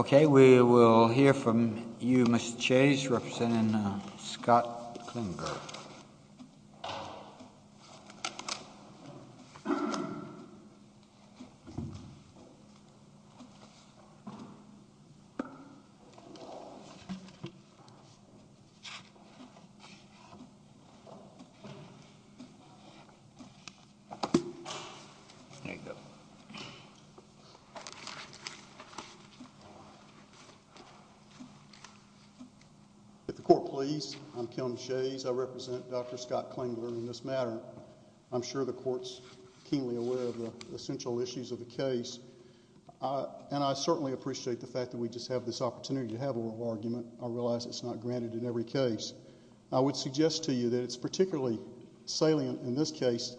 We will hear from you, Mr. Chase, representing Scott Klinger. If the court please, I'm Kelton Chase, I represent Dr. Scott Klinger in this matter. I'm sure the court's keenly aware of the essential issues of the case. And I certainly appreciate the fact that we just have this opportunity to have a little argument. I realize it's not granted in every case. I would suggest to you that it's particularly salient in this case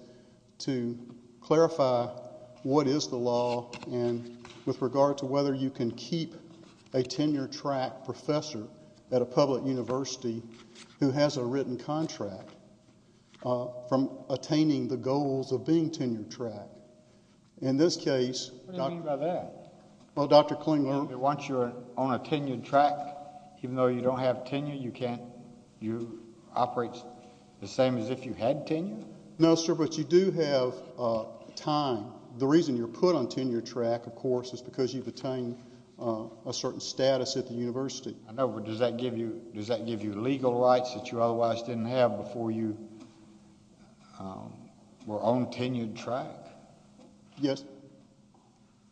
to clarify what is the law and with regard to whether you can keep a tenure-track professor at a public university who has a written contract from attaining the goals of being tenure-track. In this case... What do you mean by that? Well, Dr. Klinger... Once you're on a tenure-track, even though you don't have tenure, you can't... You operate the same as if you had tenure? No, sir, but you do have time. The reason you're put on tenure-track, of course, is because you've attained a certain status at the university. I know, but does that give you legal rights that you otherwise didn't have before you were on tenure-track? Yes.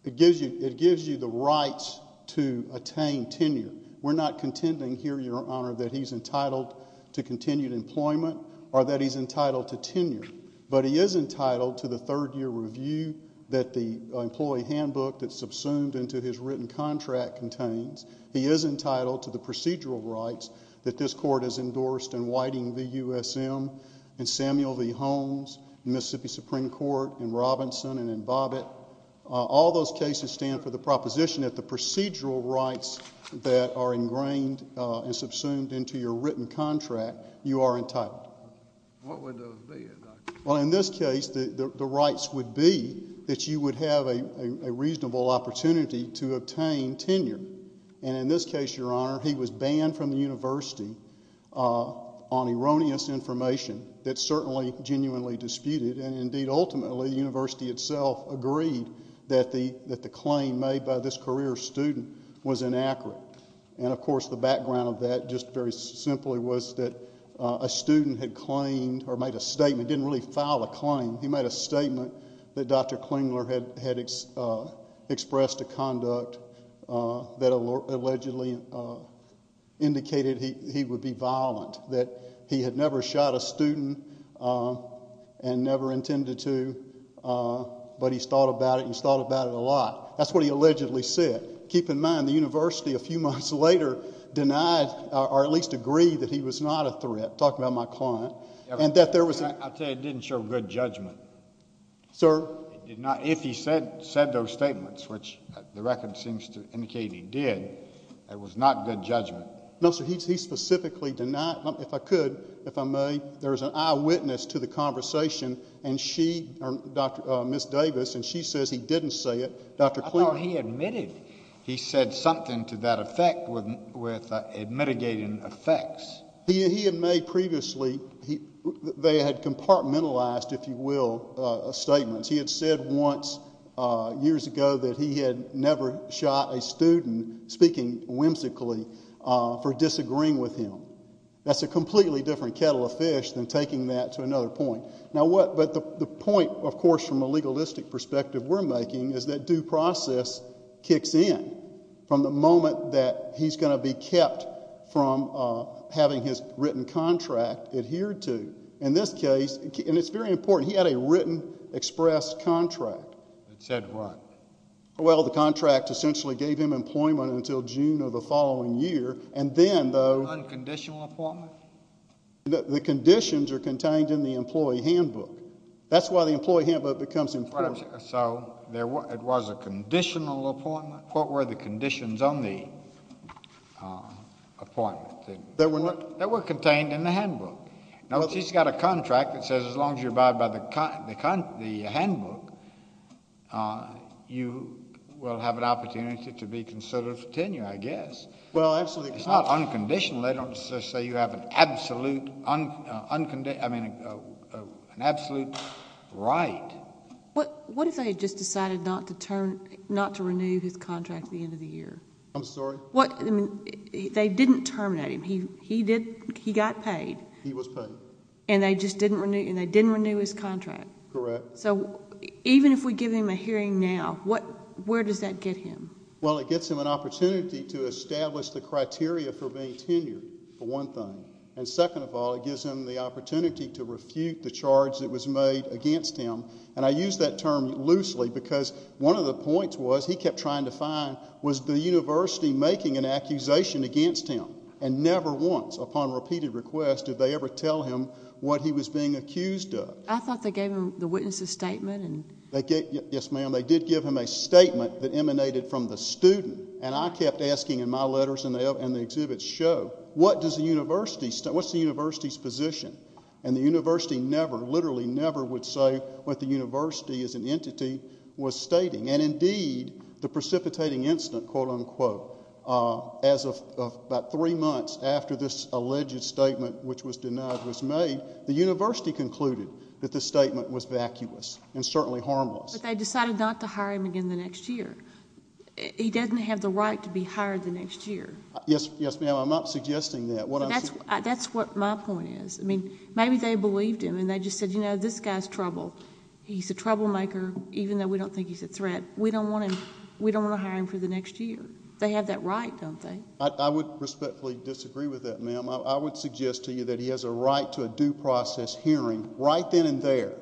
It gives you the rights to attain tenure. We're not contending here, Your Honor, that he's entitled to continued employment or that he's entitled to tenure, but he is entitled to the third-year review that the employee handbook that's subsumed into his written contract contains. He is entitled to the procedural rights that this court has endorsed in Whiting v. USM and Samuel v. Holmes, Mississippi Supreme Court, in Robinson and in Bobbitt. All those cases stand for the proposition that the procedural rights that are ingrained and subsumed into your written contract, you are entitled. What would those be? Well, in this case, the rights would be that you would have a reasonable opportunity to obtain tenure. And in this case, Your Honor, he was banned from the university on erroneous information that's certainly genuinely disputed, and indeed, ultimately, the university itself agreed that the claim made by this career student was inaccurate. And of course, the background of that, just very simply, was that a student had claimed or made a statement, didn't really file a claim, he made a statement that Dr. Klingler had expressed a conduct that allegedly indicated he would be violent, that he had never shot a student and never intended to, but he's thought about it, he's thought about it a lot. That's what he allegedly said. Keep in mind, the university a few months later denied, or at least agreed that he was not a threat, talking about my client, and that there was a... I'll tell you, it didn't show good judgment. Sir? It did not. If he said those statements, which the record seems to indicate he did, it was not good judgment. No, sir, he specifically denied... if I could, if I may, there's an eyewitness to the conversation, and she... Dr.... Ms. Davis, and she says he didn't say it. Dr. Klingler... I thought he admitted he said something to that effect with mitigating effects. He had made previously... they had compartmentalized, if you will, statements. He had said once, years ago, that he had never shot a student speaking whimsically for disagreeing with him. That's a completely different kettle of fish than taking that to another point. Now what... but the point, of course, from a legalistic perspective we're making is that due process kicks in from the moment that he's going to be kept from having his written contract adhered to. In this case, and it's very important, he had a written express contract. It said what? Well, the contract essentially gave him employment until June of the following year, and then though... Unconditional appointment? The conditions are contained in the employee handbook. That's why the employee handbook becomes important. So it was a conditional appointment? What were the conditions on the appointment? They were not... They were contained in the handbook. Now, if he's got a contract that says as long as you abide by the handbook, you will have an opportunity to be considered for tenure, I guess. Well, absolutely. It's not unconditional. They don't just say you have an absolute... I mean, an absolute right. What if they had just decided not to turn... not to renew his contract at the end of the year? I'm sorry? What... I mean, they didn't terminate him. He did... he got paid. He was paid. And they just didn't renew... and they didn't renew his contract? Correct. So even if we give him a hearing now, what... where does that get him? Well, it gets him an opportunity to establish the criteria for being tenured, for one thing. And second of all, it gives him the opportunity to refute the charge that was made against him. And I use that term loosely because one of the points was, he kept trying to find, was the university making an accusation against him? And never once, upon repeated request, did they ever tell him what he was being accused of. I thought they gave him the witness's statement and... Yes, ma'am. They did give him a statement that emanated from the student. And I kept asking in my letters and the exhibits show, what does the university... what's the university's position? And the university never, literally never, would say what the university as an entity was stating. And indeed, the precipitating incident, quote, unquote, as of about three months after this alleged statement, which was denied, was made, the university concluded that this statement was vacuous and certainly harmless. But they decided not to hire him again the next year. He doesn't have the right to be hired the next year. Yes, yes, ma'am. I'm not suggesting that. What I'm saying... That's what my point is. I mean, maybe they believed him and they just said, you know, this guy's trouble. He's a troublemaker, even though we don't think he's a threat. We don't want to hire him for the next year. They have that right, don't they? I would respectfully disagree with that, ma'am. I would suggest to you that he has a right to a due process hearing right then and there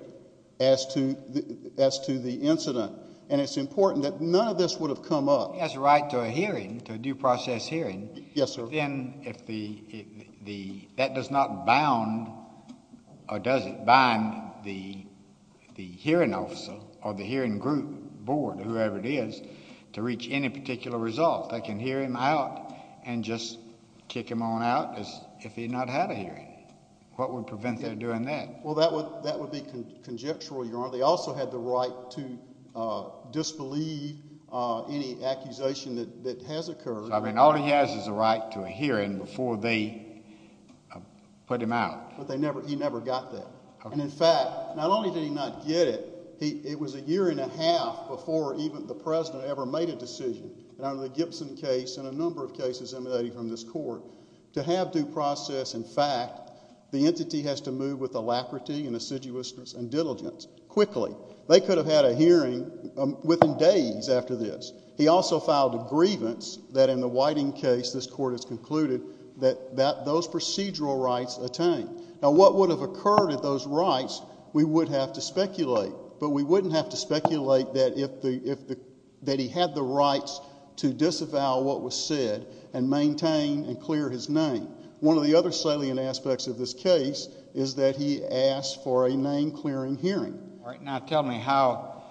as to the incident. And it's important that none of this would have come up... He has a right to a hearing, to a due process hearing. Yes, sir. But then if the... that does not bound or does it bind the hearing officer or the hearing group, board, whoever it is, to reach any particular result. They can hear him out and just kick him on out as if he had not had a hearing. What would prevent them doing that? Well, that would be conjectural, Your Honor. They also had the right to disbelieve any accusation that has occurred. So, I mean, all he has is a right to a hearing before they put him out. But they never... he never got that. And, in fact, not only did he not get it, it was a year and a half before even the President ever made a decision. And under the Gibson case and a number of cases emanating from this Court, to have due process, in fact, the entity has to move with alacrity and assiduousness and diligence quickly. They could have had a hearing within days after this. He also filed a grievance that, in the Whiting case, this Court has concluded, that those procedural rights attained. Now, what would have occurred at those rights, we would have to speculate. But we wouldn't have to speculate that if the... that he had the rights to disavow what was said and maintain and clear his name. One of the other salient aspects of this case is that he asked for a name-clearing hearing. All right, now tell me how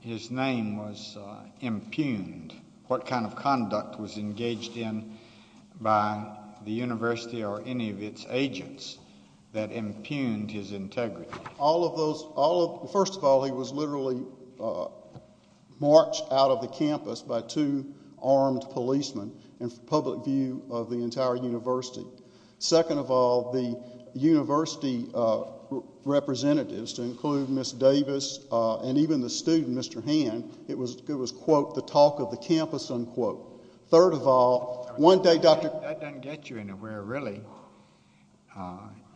his name was impugned. What kind of conduct was engaged in by the university or any of its agents that impugned his integrity? All of those... all of... first of all, he was literally marched out of the campus by two armed policemen in public view of the entire university. Second of all, the university representatives, to include Ms. Davis and even the student, Mr. Hand, it was, quote, the talk of the campus, unquote. Third of all, one day Dr.... That doesn't get you anywhere, really.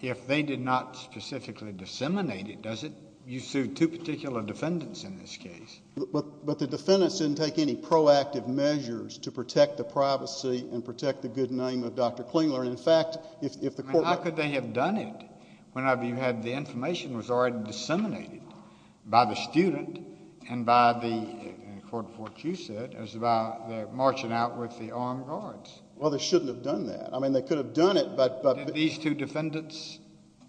If they did not specifically disseminate it, does it? You sued two particular defendants in this case. But the defendants didn't take any proactive measures to protect the privacy and protect the good name of Dr. Klingler. In fact, if the court... I mean, how could they have done it whenever you had the information that was already disseminated by the student and by the... according to what you said, it was about their marching out with the armed guards. Well, they shouldn't have done that. I mean, they could have done it, but... Did these two defendants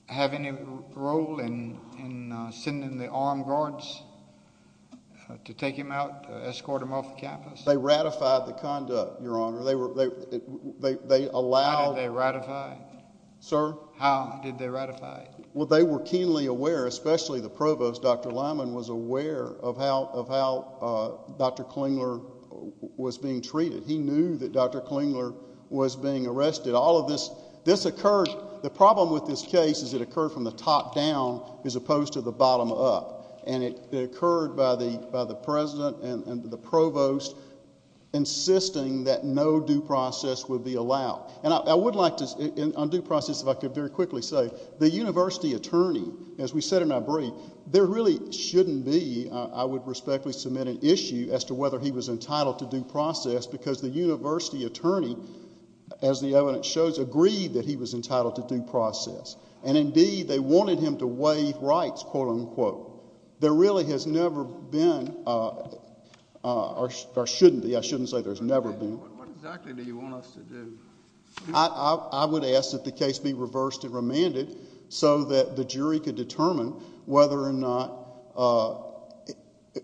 have any role in sending the armed guards to take him out, escort him off the campus? They ratified the conduct, Your Honor. They allowed... How did they ratify? Sir? How did they ratify? Well, they were keenly aware, especially the provost, Dr. Lyman, was aware of how Dr. Klingler was being treated. He knew that Dr. Klingler was being arrested. All of this... this occurred... the problem with this case is it occurred from the top down as opposed to the bottom up. And it occurred by the president and the provost insisting that no due process would be allowed. And I would like to... on due process, if I could very quickly say, the university attorney, as we said in our brief, there really shouldn't be... I would respectfully submit an issue as to whether he was entitled to due process because the university attorney, as the evidence shows, agreed that he was entitled to due process. And, indeed, they wanted him to waive rights, quote, unquote. There really has never been, or shouldn't be, I shouldn't say there's never been... What exactly do you want us to do? I would ask that the case be reversed and remanded so that the jury could determine whether or not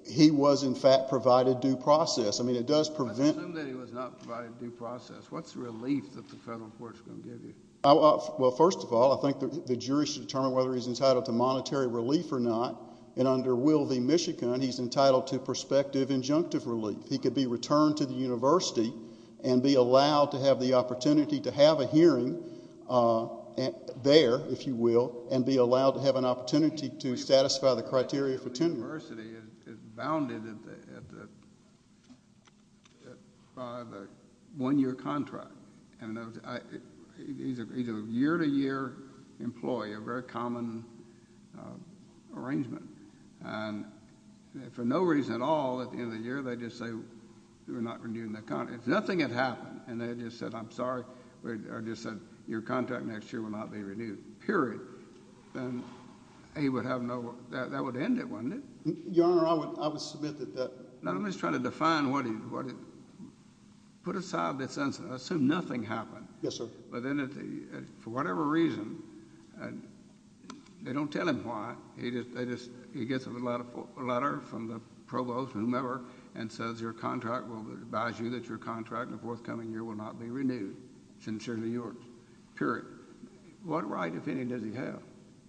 he was, in fact, provided due process. I mean, it does prevent... Let's assume that he was not provided due process. What's the relief that the federal court is going to give you? Well, first of all, I think the jury should determine whether he's entitled to monetary relief or not. And under Will v. Michigan, he's entitled to prospective injunctive relief. He could be returned to the university and be allowed to have the opportunity to have a hearing there, if you will, and be allowed to have an opportunity to satisfy the criteria for tenure. The university is bounded by the one-year contract. And he's a year-to-year employee, a very common arrangement. And for no reason at all, at the end of the year, they just say, we're not renewing the contract. If nothing had happened, and they just said, I'm sorry, or just said, your contract next year will not be renewed, period, then he would have no... that would end it, wouldn't it? Your Honor, I would submit that that... Now, I'm just trying to define what he... put aside this incident. Assume nothing happened. Yes, sir. But then, for whatever reason, they don't tell him why. He gets a letter from the provost, whomever, and says your contract will advise you that your contract the forthcoming year will not be renewed, sincerely yours, period. What right, if any, does he have?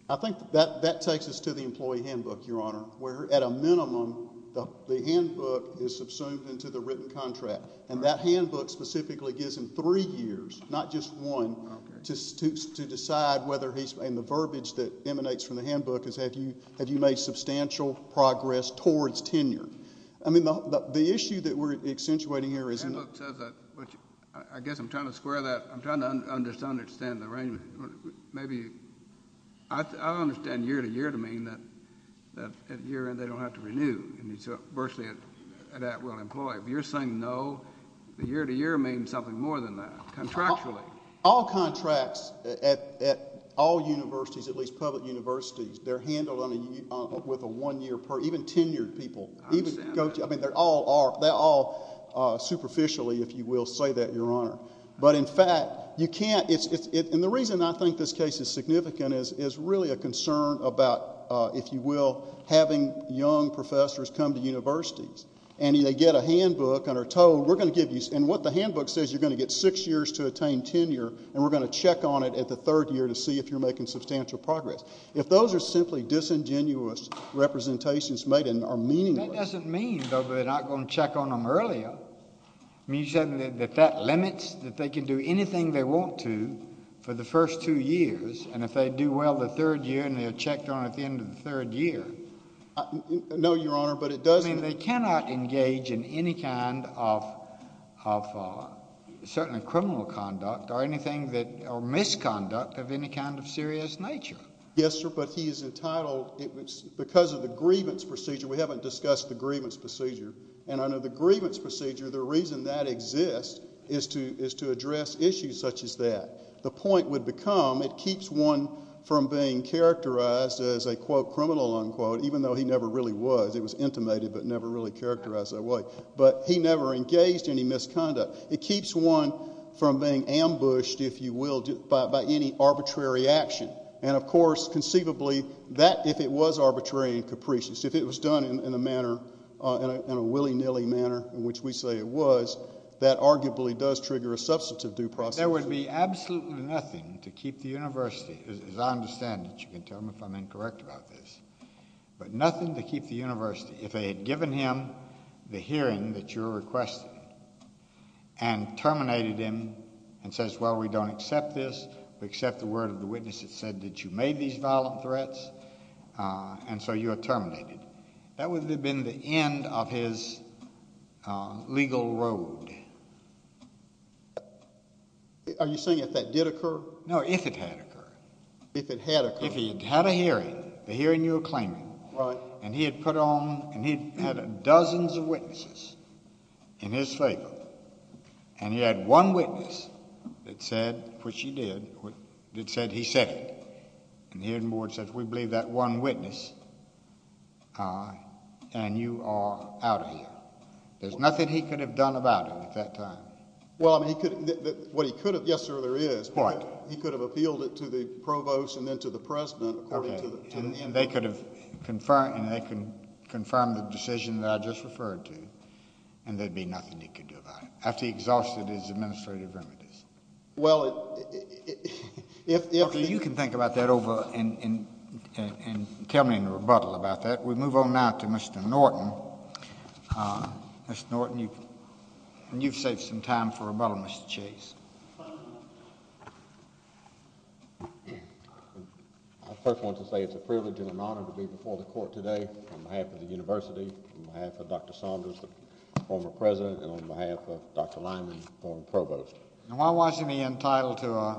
I think that takes us to the employee handbook, Your Honor, where, at a minimum, the handbook is subsumed into the written contract. And that handbook specifically gives him three years, not just one, to decide whether he's... and the verbiage that emanates from the handbook is, have you made substantial progress towards tenure? I mean, the issue that we're accentuating here is... The handbook says that, but I guess I'm trying to square that. I'm trying to understand the arrangement. Maybe... I understand year-to-year to mean that, at year end, they don't have to renew, and it's virtually an at-will employee. If you're saying no, the year-to-year means something more than that, contractually. All contracts, at all universities, at least public universities, they're handled with a one-year period, even tenured people. I understand that. I mean, they all are. They all, superficially, if you will, say that, Your Honor. But, in fact, you can't... and the reason I think this case is significant is really a concern about, if you will, having young professors come to universities, and they get a handbook and are told, we're going to give you... and what the handbook says, you're going to get six years to attain tenure, and we're going to check on it at the third year to see if you're making substantial progress. If those are simply disingenuous representations made and are meaningless... That doesn't mean, though, that they're not going to check on them earlier. I mean, you're saying that that limits, that they can do anything they want to for the first two years, and if they do well the third year and they're checked on at the end of the third year... No, Your Honor, but it doesn't... I mean, they cannot engage in any kind of, certainly criminal conduct or anything that... or misconduct of any kind of serious nature. Yes, sir, but he is entitled... because of the grievance procedure, we haven't discussed the grievance procedure. And under the grievance procedure, the reason that exists is to address issues such as that. The point would become, it keeps one from being characterized as a, quote, criminal, unquote, even though he never really was. It was intimated, but never really characterized that way. But he never engaged any misconduct. It keeps one from being ambushed, if you will, by any arbitrary action. And, of course, conceivably, that, if it was arbitrary and capricious, if it was done in a manner, in a willy-nilly manner, in which we say it was, that arguably does trigger a substantive due process. There would be absolutely nothing to keep the University, as I understand it, you can tell me if I'm incorrect about this, but nothing to keep the University if they had given him the hearing that you're requesting and terminated him and says, well, we don't accept this, we accept the word of the witness that said that you made these violent threats, and so you are terminated. That would have been the end of his legal road. Are you saying if that did occur? No, if it had occurred. If it had occurred? If he had had a hearing, the hearing you're claiming, and he had put on, and he had dozens of witnesses in his favor, and he had one witness that said, which he did, that said he said it, and the hearing board said, we believe that one witness, and you are out of here. There's nothing he could have done about it at that time. Well, I mean, he could have, what he could have, yes, sir, there is. What? He could have appealed it to the provost and then to the president. Okay, and they could have confirmed, and they can confirm the decision that I just referred to, and there'd be nothing he could do about it, after he exhausted his administrative remedies. Well, if... Okay, you can think about that over and tell me in rebuttal about that. We move on now to Mr. Norton. Mr. Norton, you've saved some time for rebuttal, Mr. Chase. I first want to say it's a privilege and an honor to be before the Court today on behalf of the university, on behalf of Dr. Saunders, the former president, and on behalf of Dr. Norton. Why wasn't he entitled to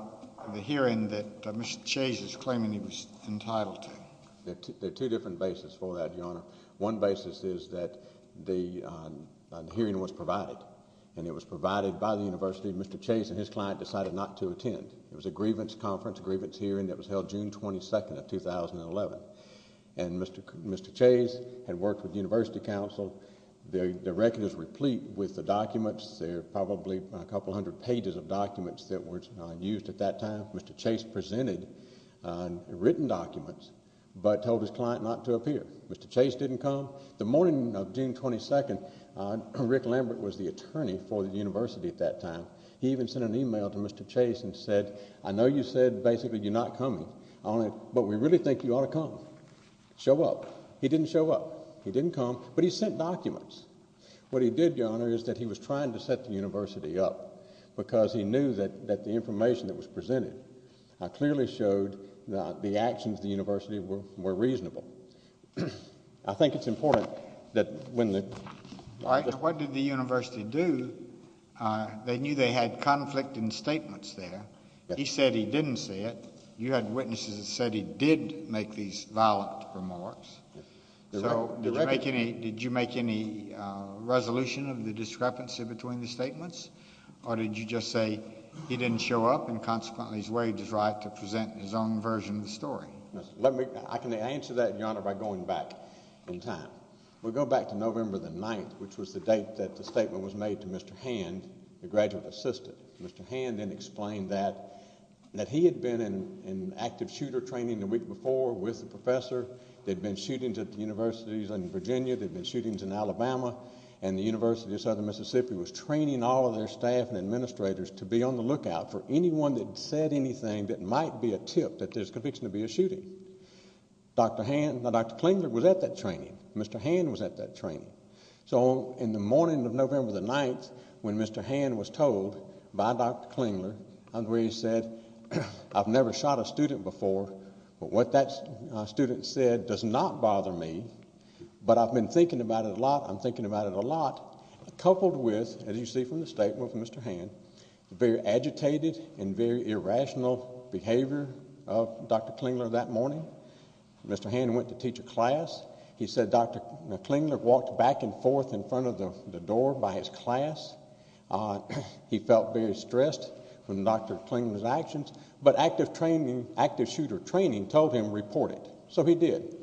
the hearing that Mr. Chase is claiming he was entitled to? There are two different bases for that, Your Honor. One basis is that the hearing was provided, and it was provided by the university. Mr. Chase and his client decided not to attend. It was a grievance conference, a grievance hearing that was held June 22nd of 2011, and Mr. Chase had worked with the university council. The record is replete with the documents. There are probably a couple hundred pages of documents that were used at that time. Mr. Chase presented written documents but told his client not to appear. Mr. Chase didn't come. The morning of June 22nd, Rick Lambert was the attorney for the university at that time. He even sent an email to Mr. Chase and said, I know you said basically you're not coming, but we really think you ought to come, show up. He didn't show up. He didn't come, but he sent documents. What he did, Your Honor, is that he was trying to set the university up because he knew that the information that was presented clearly showed that the actions of the university were reasonable. I think it's important that when the— All right. What did the university do? They knew they had conflict in statements there. He said he didn't say it. You had witnesses that said he did make these violent remarks. Did you make any resolution of the discrepancy between the statements, or did you just say he didn't show up and consequently he's right to present his own version of the story? I can answer that, Your Honor, by going back in time. We'll go back to November 9th, which was the date that the statement was made to Mr. Hand, the graduate assistant. Mr. Hand then explained that he had been in active shooter training the week before with the professor. There had been shootings at the universities in Virginia. There had been shootings in Alabama, and the University of Southern Mississippi was training all of their staff and administrators to be on the lookout for anyone that said anything that might be a tip that there's conviction to be a shooting. Dr. Hand—Dr. Klingler was at that training. Mr. Hand was at that training. So in the morning of November 9th, when Mr. Hand was told by Dr. Klingler, where he said, I've never shot a student before, but what that student said does not bother me, but I've been thinking about it a lot, I'm thinking about it a lot, coupled with, as you see from the statement from Mr. Hand, the very agitated and very irrational behavior of Dr. Klingler that morning. Mr. Hand went to teach a class. He said Dr. Klingler walked back and forth in front of the door by his class. He felt very stressed from Dr. Klingler's actions, but active training, active shooter training told him report it. So he did.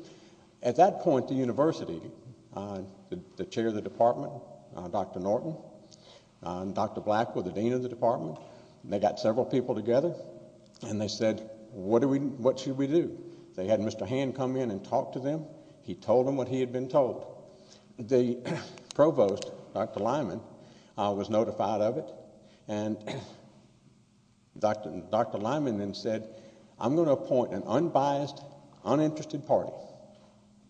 At that point, the university, the chair of the department, Dr. Norton, and Dr. Black were the dean of the department. They got several people together, and they said, what should we do? They had Mr. Hand come in and talk to them. He told them what he had been told. The provost, Dr. Lyman, was notified of it, and Dr. Lyman then said, I'm going to appoint an unbiased, uninterested party,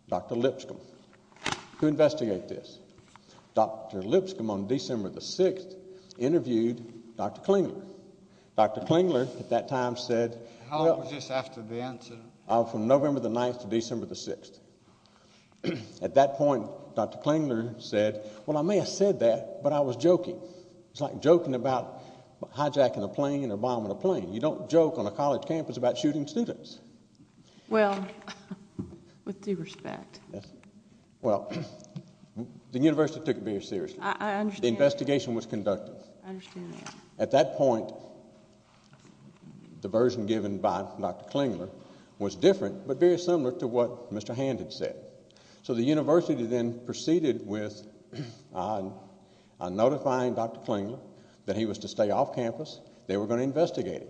Dr. Lipscomb, to investigate this. Dr. Lipscomb, on December the 6th, interviewed Dr. Klingler. Dr. Klingler at that time said, How long was this after the incident? From November the 9th to December the 6th. At that point, Dr. Klingler said, Well, I may have said that, but I was joking. It's like joking about hijacking a plane or bombing a plane. You don't joke on a college campus about shooting students. Well, with due respect. Well, the university took it very seriously. I understand. The investigation was conducted. I understand that. At that point, the version given by Dr. Klingler was different but very similar to what Mr. Hand had said. So the university then proceeded with notifying Dr. Klingler that he was to stay off campus. They were going to investigate him.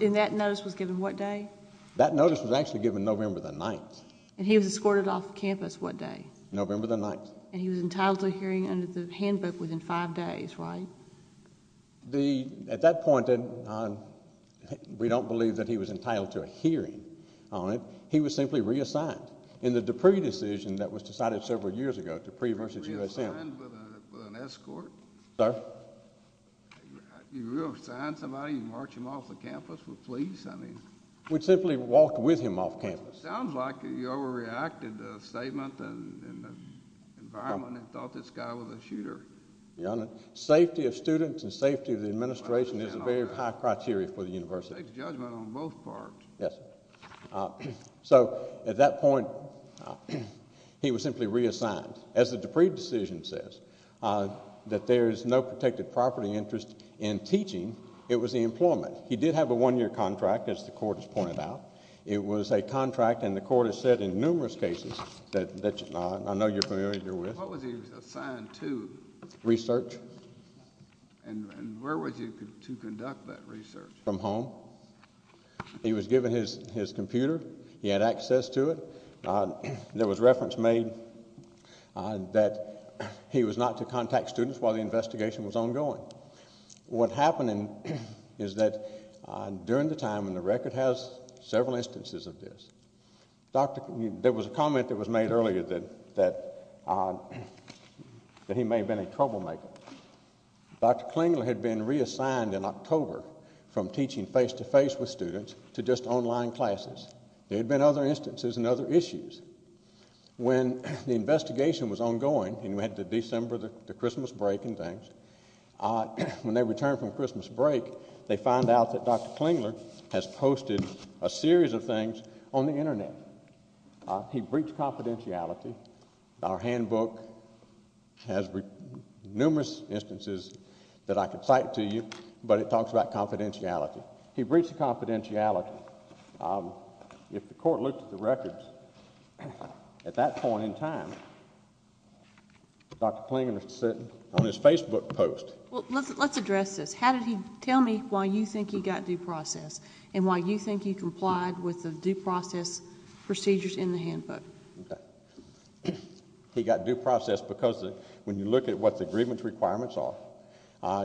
And that notice was given what day? That notice was actually given November the 9th. And he was escorted off campus what day? November the 9th. And he was entitled to a hearing under the handbook within five days, right? At that point, we don't believe that he was entitled to a hearing on it. He was simply reassigned in the Dupree decision that was decided several years ago, Dupree v. USM. Reassigned with an escort? Sir? You reassign somebody, you march him off the campus with police? We simply walked with him off campus. It sounds like you overreacted the statement and the environment and thought this guy was a shooter. Safety of students and safety of the administration is a very high criteria for the university. Judgement on both parts. Yes, sir. So at that point, he was simply reassigned. As the Dupree decision says, that there is no protected property interest in teaching, it was the employment. He did have a one-year contract, as the court has pointed out. It was a contract, and the court has said in numerous cases that I know you're familiar with. What was he assigned to? Research. And where was he to conduct that research? From home. He was given his computer. He had access to it. There was reference made that he was not to contact students while the investigation was ongoing. What happened is that during the time, and the record has several instances of this, there was a comment that was made earlier that he may have been a troublemaker. Dr. Klingler had been reassigned in October from teaching face-to-face with students to just online classes. There had been other instances and other issues. When the investigation was ongoing, and we had the December, the Christmas break and things, when they returned from Christmas break, they found out that Dr. Klingler has posted a series of things on the Internet. He breached confidentiality. Our handbook has numerous instances that I could cite to you, but it talks about confidentiality. He breached confidentiality. If the court looked at the records at that point in time, Dr. Klingler is sitting on his Facebook post. Let's address this. How did he—tell me why you think he got due process and why you think he complied with the due process procedures in the handbook. Okay. He got due process because when you look at what the grievance requirements are,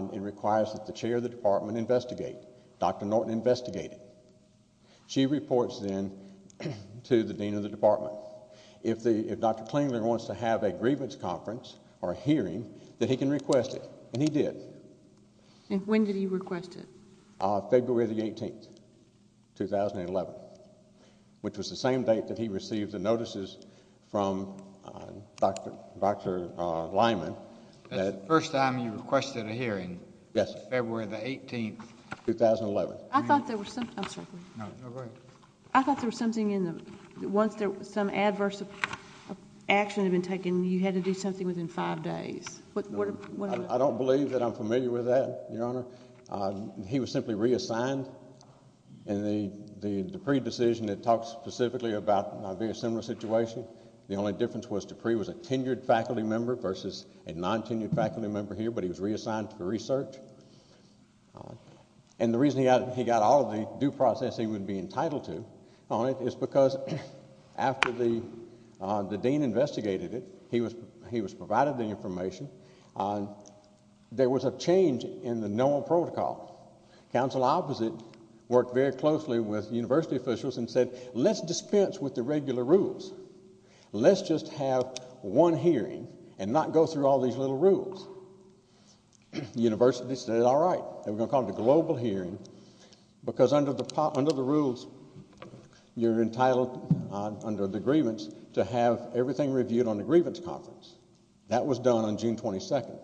it requires that the chair of the department investigate. Dr. Norton investigated. She reports then to the dean of the department. If Dr. Klingler wants to have a grievance conference or hearing, that he can request it, and he did. When did he request it? February the 18th, 2011, which was the same date that he received the notices from Dr. Lyman. That's the first time you requested a hearing. Yes, sir. February the 18th. 2011. I thought there was something—I'm sorry, please. No, go ahead. I thought there was something in the—once there was some adverse action had been taken, you had to do something within five days. I don't believe that I'm familiar with that, Your Honor. He was simply reassigned. In the Dupree decision, it talks specifically about a very similar situation. The only difference was Dupree was a tenured faculty member versus a non-tenured faculty member here, but he was reassigned for research. And the reason he got all of the due process he would be entitled to on it is because after the dean investigated it, he was provided the information. There was a change in the NOAA protocol. Council opposite worked very closely with university officials and said, let's dispense with the regular rules. Let's just have one hearing and not go through all these little rules. The university said, all right, we're going to call it a global hearing because under the rules you're entitled under the grievance to have everything reviewed on the grievance conference. That was done on June 22nd.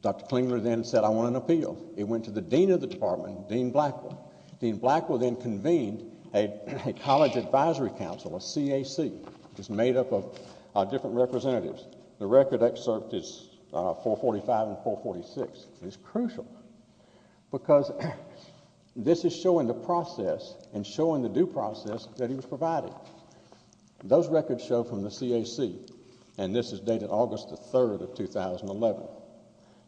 Dr. Klingler then said, I want an appeal. It went to the dean of the department, Dean Blackwell. Dean Blackwell then convened a college advisory council, a CAC, which is made up of different representatives. The record excerpt is 445 and 446. It's crucial because this is showing the process and showing the due process that he was provided. Those records show from the CAC, and this is dated August 3rd of 2011,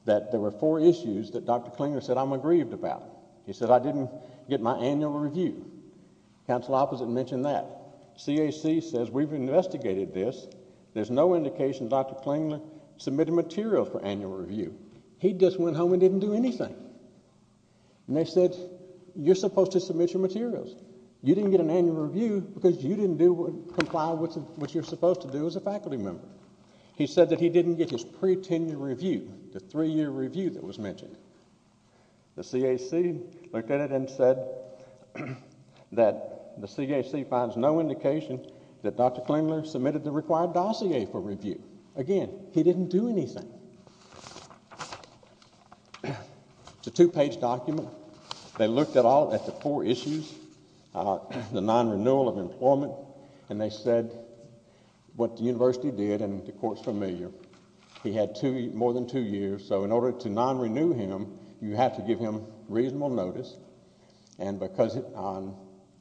that there were four issues that Dr. Klingler said, I'm aggrieved about. He said, I didn't get my annual review. Council opposite mentioned that. CAC says, we've investigated this. There's no indication Dr. Klingler submitted material for annual review. He just went home and didn't do anything. And they said, you're supposed to submit your materials. You didn't get an annual review because you didn't comply with what you're supposed to do as a faculty member. He said that he didn't get his pre-tenure review, the three-year review that was mentioned. The CAC looked at it and said that the CAC finds no indication that Dr. Klingler submitted the required dossier for review. Again, he didn't do anything. It's a two-page document. They looked at the four issues, the non-renewal of employment, and they said what the university did, and the court's familiar. He had more than two years, so in order to non-renew him, you have to give him reasonable notice. And because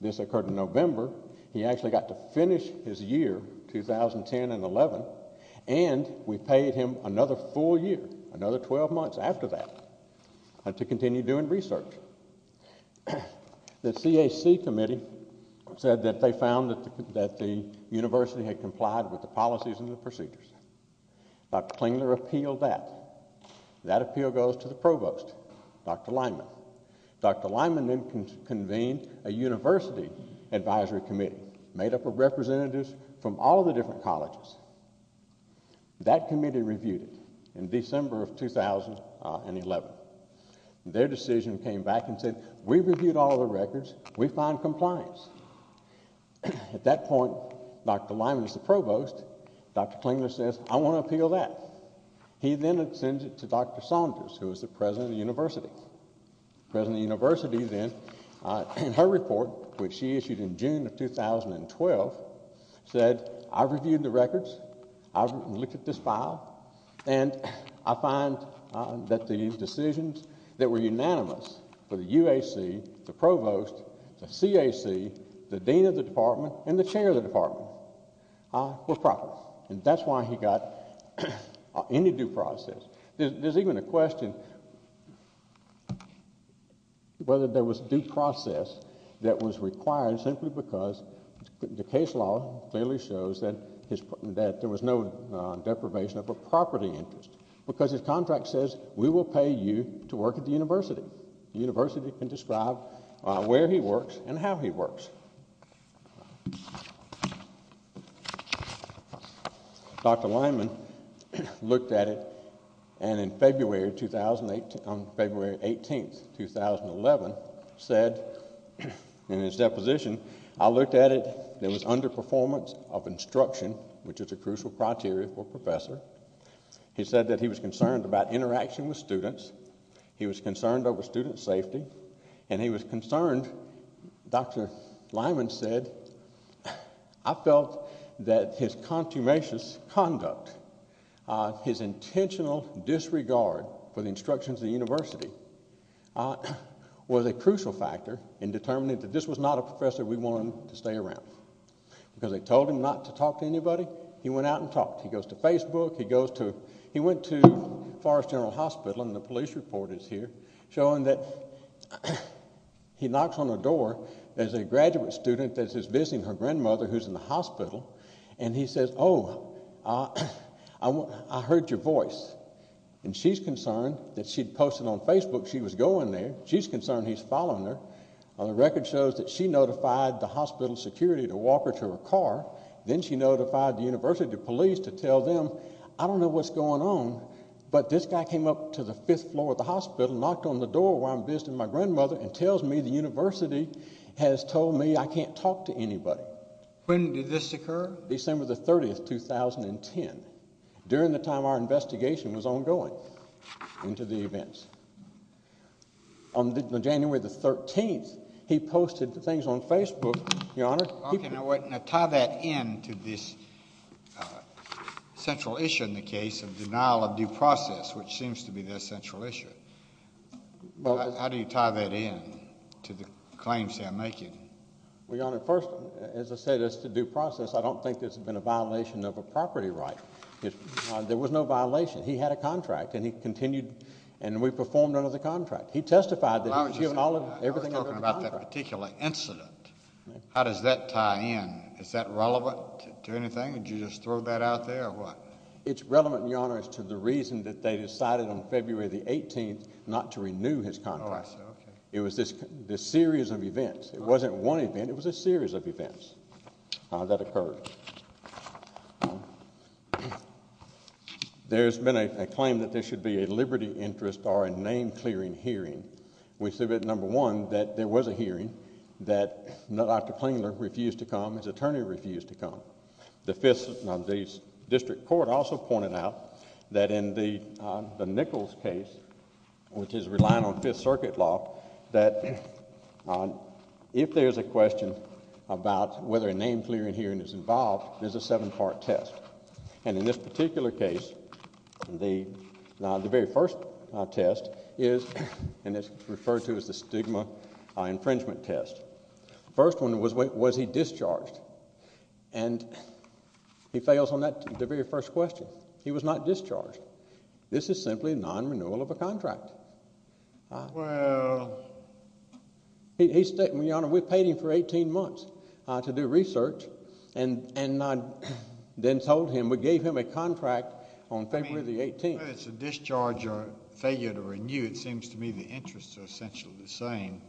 this occurred in November, he actually got to finish his year, 2010 and 11, and we paid him another full year, another 12 months after that, to continue doing research. The CAC committee said that they found that the university had complied with the policies and the procedures. Dr. Klingler appealed that. That appeal goes to the provost, Dr. Lyman. Dr. Lyman then convened a university advisory committee made up of representatives from all the different colleges. That committee reviewed it in December of 2011. Their decision came back and said, we reviewed all the records, we find compliance. At that point, Dr. Lyman is the provost. Dr. Klingler says, I want to appeal that. He then sends it to Dr. Saunders, who is the president of the university. The president of the university then, in her report, which she issued in June of 2012, said, I reviewed the records, I looked at this file, and I find that the decisions that were unanimous for the UAC, the provost, the CAC, the dean of the department, and the chair of the department were proper. That's why he got any due process. There's even a question whether there was due process that was required simply because the case law clearly shows that there was no deprivation of a property interest because his contract says, we will pay you to work at the university. The university can describe where he works and how he works. Dr. Lyman looked at it, and on February 18, 2011, said in his deposition, I looked at it, there was underperformance of instruction, which is a crucial criteria for a professor. He said that he was concerned about interaction with students, he was concerned over student safety, and he was concerned, Dr. Lyman said, I felt that his consummation conduct, his intentional disregard for the instructions of the university, was a crucial factor in determining that this was not a professor we wanted to stay around. Because they told him not to talk to anybody, he went out and talked. He goes to Facebook, he went to Forest General Hospital, and the police report is here, showing that he knocks on the door, there's a graduate student that's visiting her grandmother who's in the hospital, and he says, oh, I heard your voice, and she's concerned that she posted on Facebook she was going there, she's concerned he's following her. The record shows that she notified the hospital security to walk her to her car, then she notified the university police to tell them, I don't know what's going on, but this guy came up to the fifth floor of the hospital, knocked on the door where I'm visiting my grandmother, and tells me the university has told me I can't talk to anybody. When did this occur? December 30, 2010, during the time our investigation was ongoing, into the events. On January 13, he posted things on Facebook, Your Honor. Okay, now tie that in to this central issue in the case of denial of due process, which seems to be the central issue. How do you tie that in to the claims they're making? Well, Your Honor, first, as I said, as to due process, I don't think this has been a violation of a property right. There was no violation. He had a contract, and he continued, and we performed under the contract. He testified that he was doing everything under the contract. I was talking about that particular incident. How does that tie in? Is that relevant to anything? Did you just throw that out there, or what? It's relevant, Your Honor, as to the reason that they decided on February 18 not to renew his contract. It was this series of events. It wasn't one event. It was a series of events that occurred. There's been a claim that there should be a liberty interest or a name-clearing hearing. We see that, number one, that there was a hearing, that Dr. Klingler refused to come, his attorney refused to come. The District Court also pointed out that in the Nichols case, which is relying on Fifth Circuit law, that if there's a question about whether a name-clearing hearing is involved, there's a seven-part test. In this particular case, the very first test is referred to as the stigma infringement test. The first one was, was he discharged? He fails on the very first question. He was not discharged. This is simply a non-renewal of a contract. Well. Your Honor, we paid him for 18 months to do research, and then told him we gave him a contract on February the 18th. Whether it's a discharge or failure to renew, it seems to me the interests are essentially the same.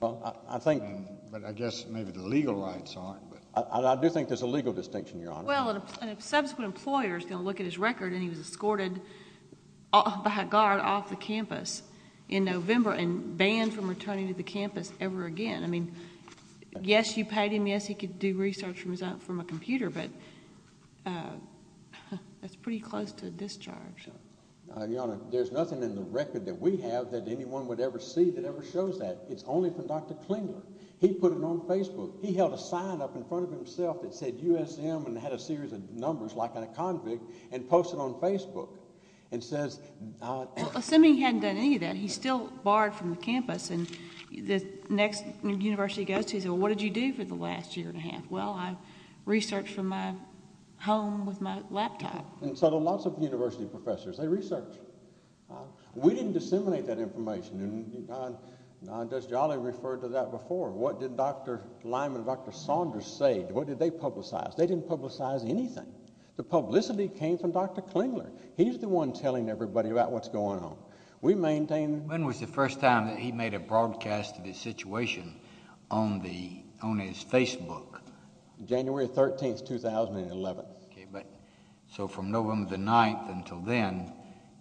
But I guess maybe the legal rights aren't. I do think there's a legal distinction, Your Honor. Well, and if subsequent employers are going to look at his record and he was escorted by a guard off the campus in November and banned from returning to the campus ever again. I mean, yes, you paid him, yes, he could do research from a computer, but that's pretty close to a discharge. Your Honor, there's nothing in the record that we have that anyone would ever see that ever shows that. It's only from Dr. Klingler. He put it on Facebook. He held a sign up in front of himself that said USM and had a series of numbers, like in a convict, and posted it on Facebook. Assuming he hadn't done any of that, he's still barred from the campus, and the next university he goes to says, well, what did you do for the last year and a half? Well, I researched from my home with my laptop. So lots of university professors, they research. We didn't disseminate that information. Judge Jolly referred to that before. What did Dr. Lyman and Dr. Saunders say? What did they publicize? They didn't publicize anything. The publicity came from Dr. Klingler. He's the one telling everybody about what's going on. When was the first time that he made a broadcast of his situation on his Facebook? January 13, 2011. So from November 9 until then,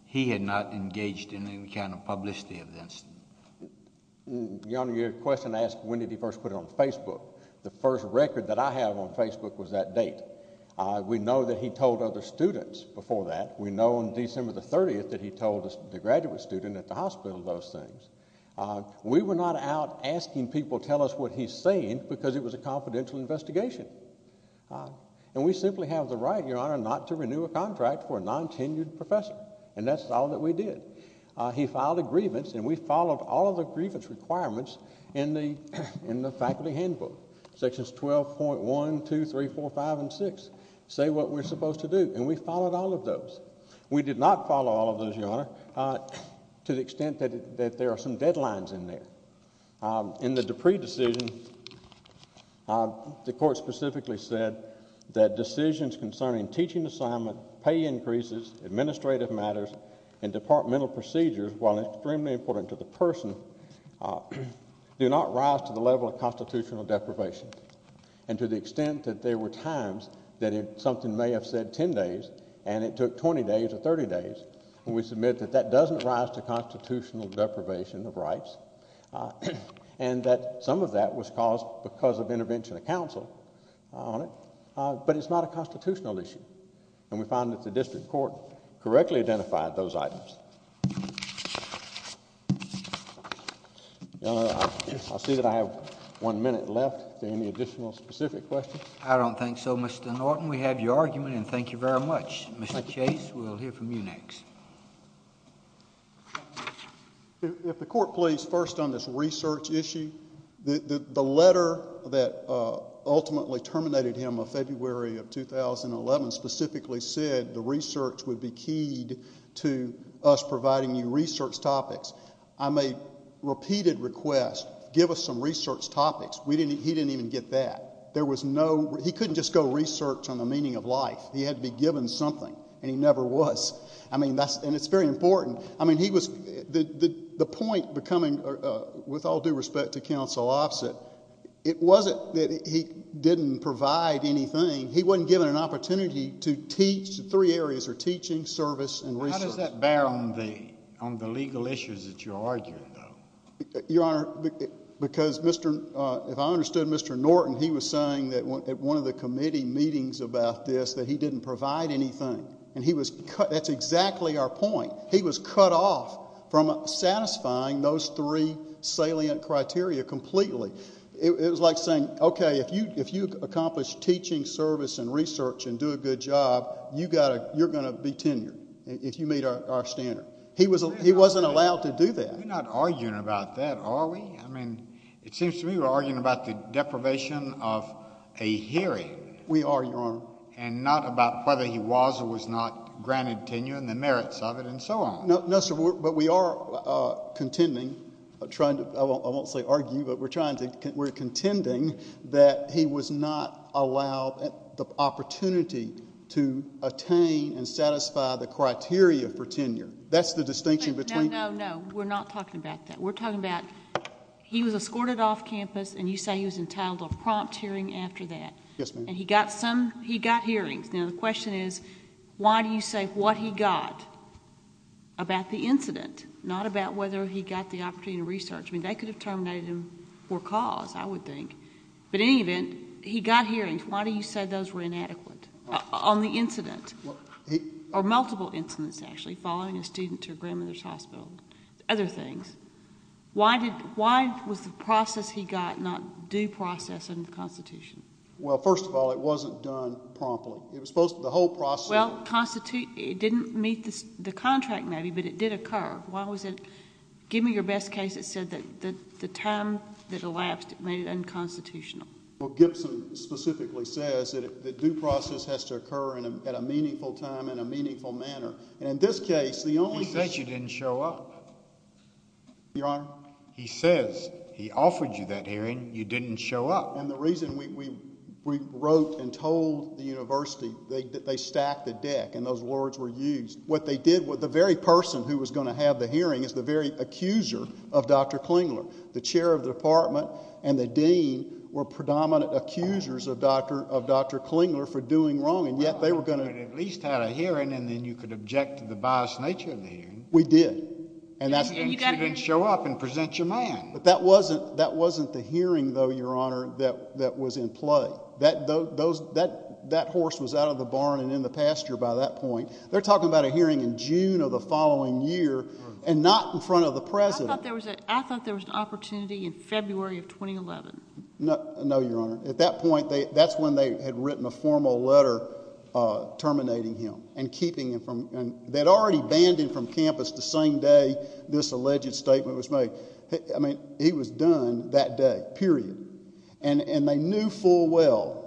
he had not engaged in any kind of publicity of that. Your Honor, your question asked when did he first put it on Facebook. The first record that I have on Facebook was that date. We know that he told other students before that. We know on December 30 that he told the graduate student at the hospital those things. We were not out asking people to tell us what he's saying because it was a confidential investigation. And we simply have the right, Your Honor, not to renew a contract for a non-tenured professor, and that's all that we did. He filed a grievance, and we followed all of the grievance requirements in the faculty handbook. Sections 12.1, 2, 3, 4, 5, and 6 say what we're supposed to do, and we followed all of those. We did not follow all of those, Your Honor, to the extent that there are some deadlines in there. In the Dupree decision, the court specifically said that decisions concerning teaching assignment, pay increases, administrative matters, and departmental procedures, while extremely important to the person, do not rise to the level of constitutional deprivation. And to the extent that there were times that something may have said 10 days, and it took 20 days or 30 days, and we submit that that doesn't rise to constitutional deprivation of rights, and that some of that was caused because of intervention of counsel on it, but it's not a constitutional issue. And we found that the district court correctly identified those items. I see that I have one minute left. Are there any additional specific questions? I don't think so, Mr. Norton. We have your argument, and thank you very much. Mr. Chase, we'll hear from you next. If the court please, first on this research issue, the letter that ultimately terminated him of February of 2011 specifically said the research would be keyed to us providing you research topics. I made repeated requests, give us some research topics. He didn't even get that. He couldn't just go research on the meaning of life. He had to be given something, and he never was. I mean, and it's very important. I mean, the point becoming, with all due respect to Counsel Offset, it wasn't that he didn't provide anything. He wasn't given an opportunity to teach. The three areas are teaching, service, and research. How does that bear on the legal issues that you're arguing, though? Your Honor, because if I understood Mr. Norton, he was saying at one of the committee meetings about this that he didn't provide anything, and that's exactly our point. He was cut off from satisfying those three salient criteria completely. It was like saying, okay, if you accomplish teaching, service, and research and do a good job, you're going to be tenured if you meet our standard. He wasn't allowed to do that. We're not arguing about that, are we? I mean, it seems to me we're arguing about the deprivation of a hearing. We are, Your Honor. And not about whether he was or was not granted tenure and the merits of it and so on. No, sir, but we are contending, trying to, I won't say argue, but we're contending that he was not allowed the opportunity to attain and satisfy the criteria for tenure. That's the distinction between. No, no, no. We're not talking about that. We're talking about he was escorted off campus, and you say he was entitled to a prompt hearing after that. Yes, ma'am. And he got hearings. Now, the question is, why do you say what he got about the incident, not about whether he got the opportunity to research? I mean, they could have terminated him for cause, I would think. But in any event, he got hearings. Why do you say those were inadequate on the incident? Or multiple incidents, actually, following a student to a grandmother's hospital, other things. Why was the process he got not due process under the Constitution? Well, first of all, it wasn't done promptly. It was supposed to be the whole process. Well, it didn't meet the contract, maybe, but it did occur. Why was it? Give me your best case that said that the time that elapsed made it unconstitutional. Well, Gibson specifically says that due process has to occur at a meaningful time in a meaningful manner. And in this case, the only— He said you didn't show up. Your Honor? He says, he offered you that hearing. You didn't show up. And the reason we wrote and told the university, they stacked a deck, and those words were used. What they did, the very person who was going to have the hearing is the very accuser of Dr. Klingler. The chair of the department and the dean were predominant accusers of Dr. Klingler for doing wrong, and yet they were going to— Well, you could have at least had a hearing, and then you could object to the biased nature of the hearing. We did. And you didn't show up and present your man. But that wasn't the hearing, though, Your Honor, that was in play. That horse was out of the barn and in the pasture by that point. They're talking about a hearing in June of the following year and not in front of the president. I thought there was an opportunity in February of 2011. No, Your Honor. At that point, that's when they had written a formal letter terminating him and keeping him from— They had already banned him from campus the same day this alleged statement was made. I mean, he was done that day, period. And they knew full well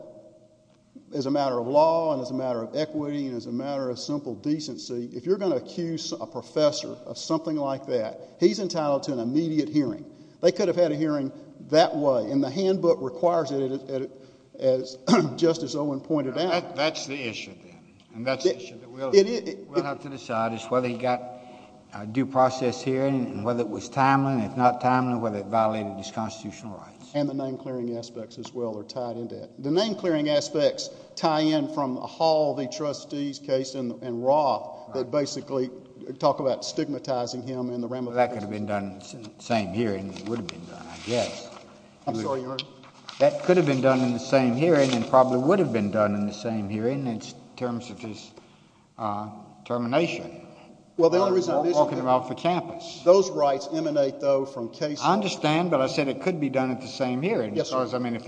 as a matter of law and as a matter of equity and as a matter of simple decency, if you're going to accuse a professor of something like that, he's entitled to an immediate hearing. They could have had a hearing that way, and the handbook requires it, as Justice Owen pointed out. That's the issue, then, and that's the issue. We'll have to decide as to whether he got a due process hearing and whether it was timely. And if not timely, whether it violated his constitutional rights. And the name-clearing aspects as well are tied into it. The name-clearing aspects tie in from the Hall v. Trustees case and Roth that basically talk about stigmatizing him. That could have been done in the same hearing. It would have been done, I guess. I'm sorry, Your Honor. That could have been done in the same hearing and probably would have been done in the same hearing in terms of his termination. Well, the only reason is that those rights emanate, though, from cases. I understand, but I said it could be done at the same hearing. Yes, sir. Because, I mean, if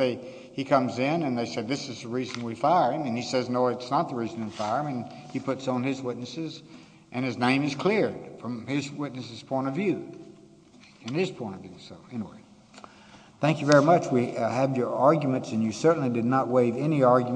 he comes in and they say, this is the reason we fire him, and he says, no, it's not the reason we fire him, and he puts on his witnesses and his name is cleared from his witnesses' point of view and his point of view. Thank you very much. We have your arguments, and you certainly did not waive any arguments.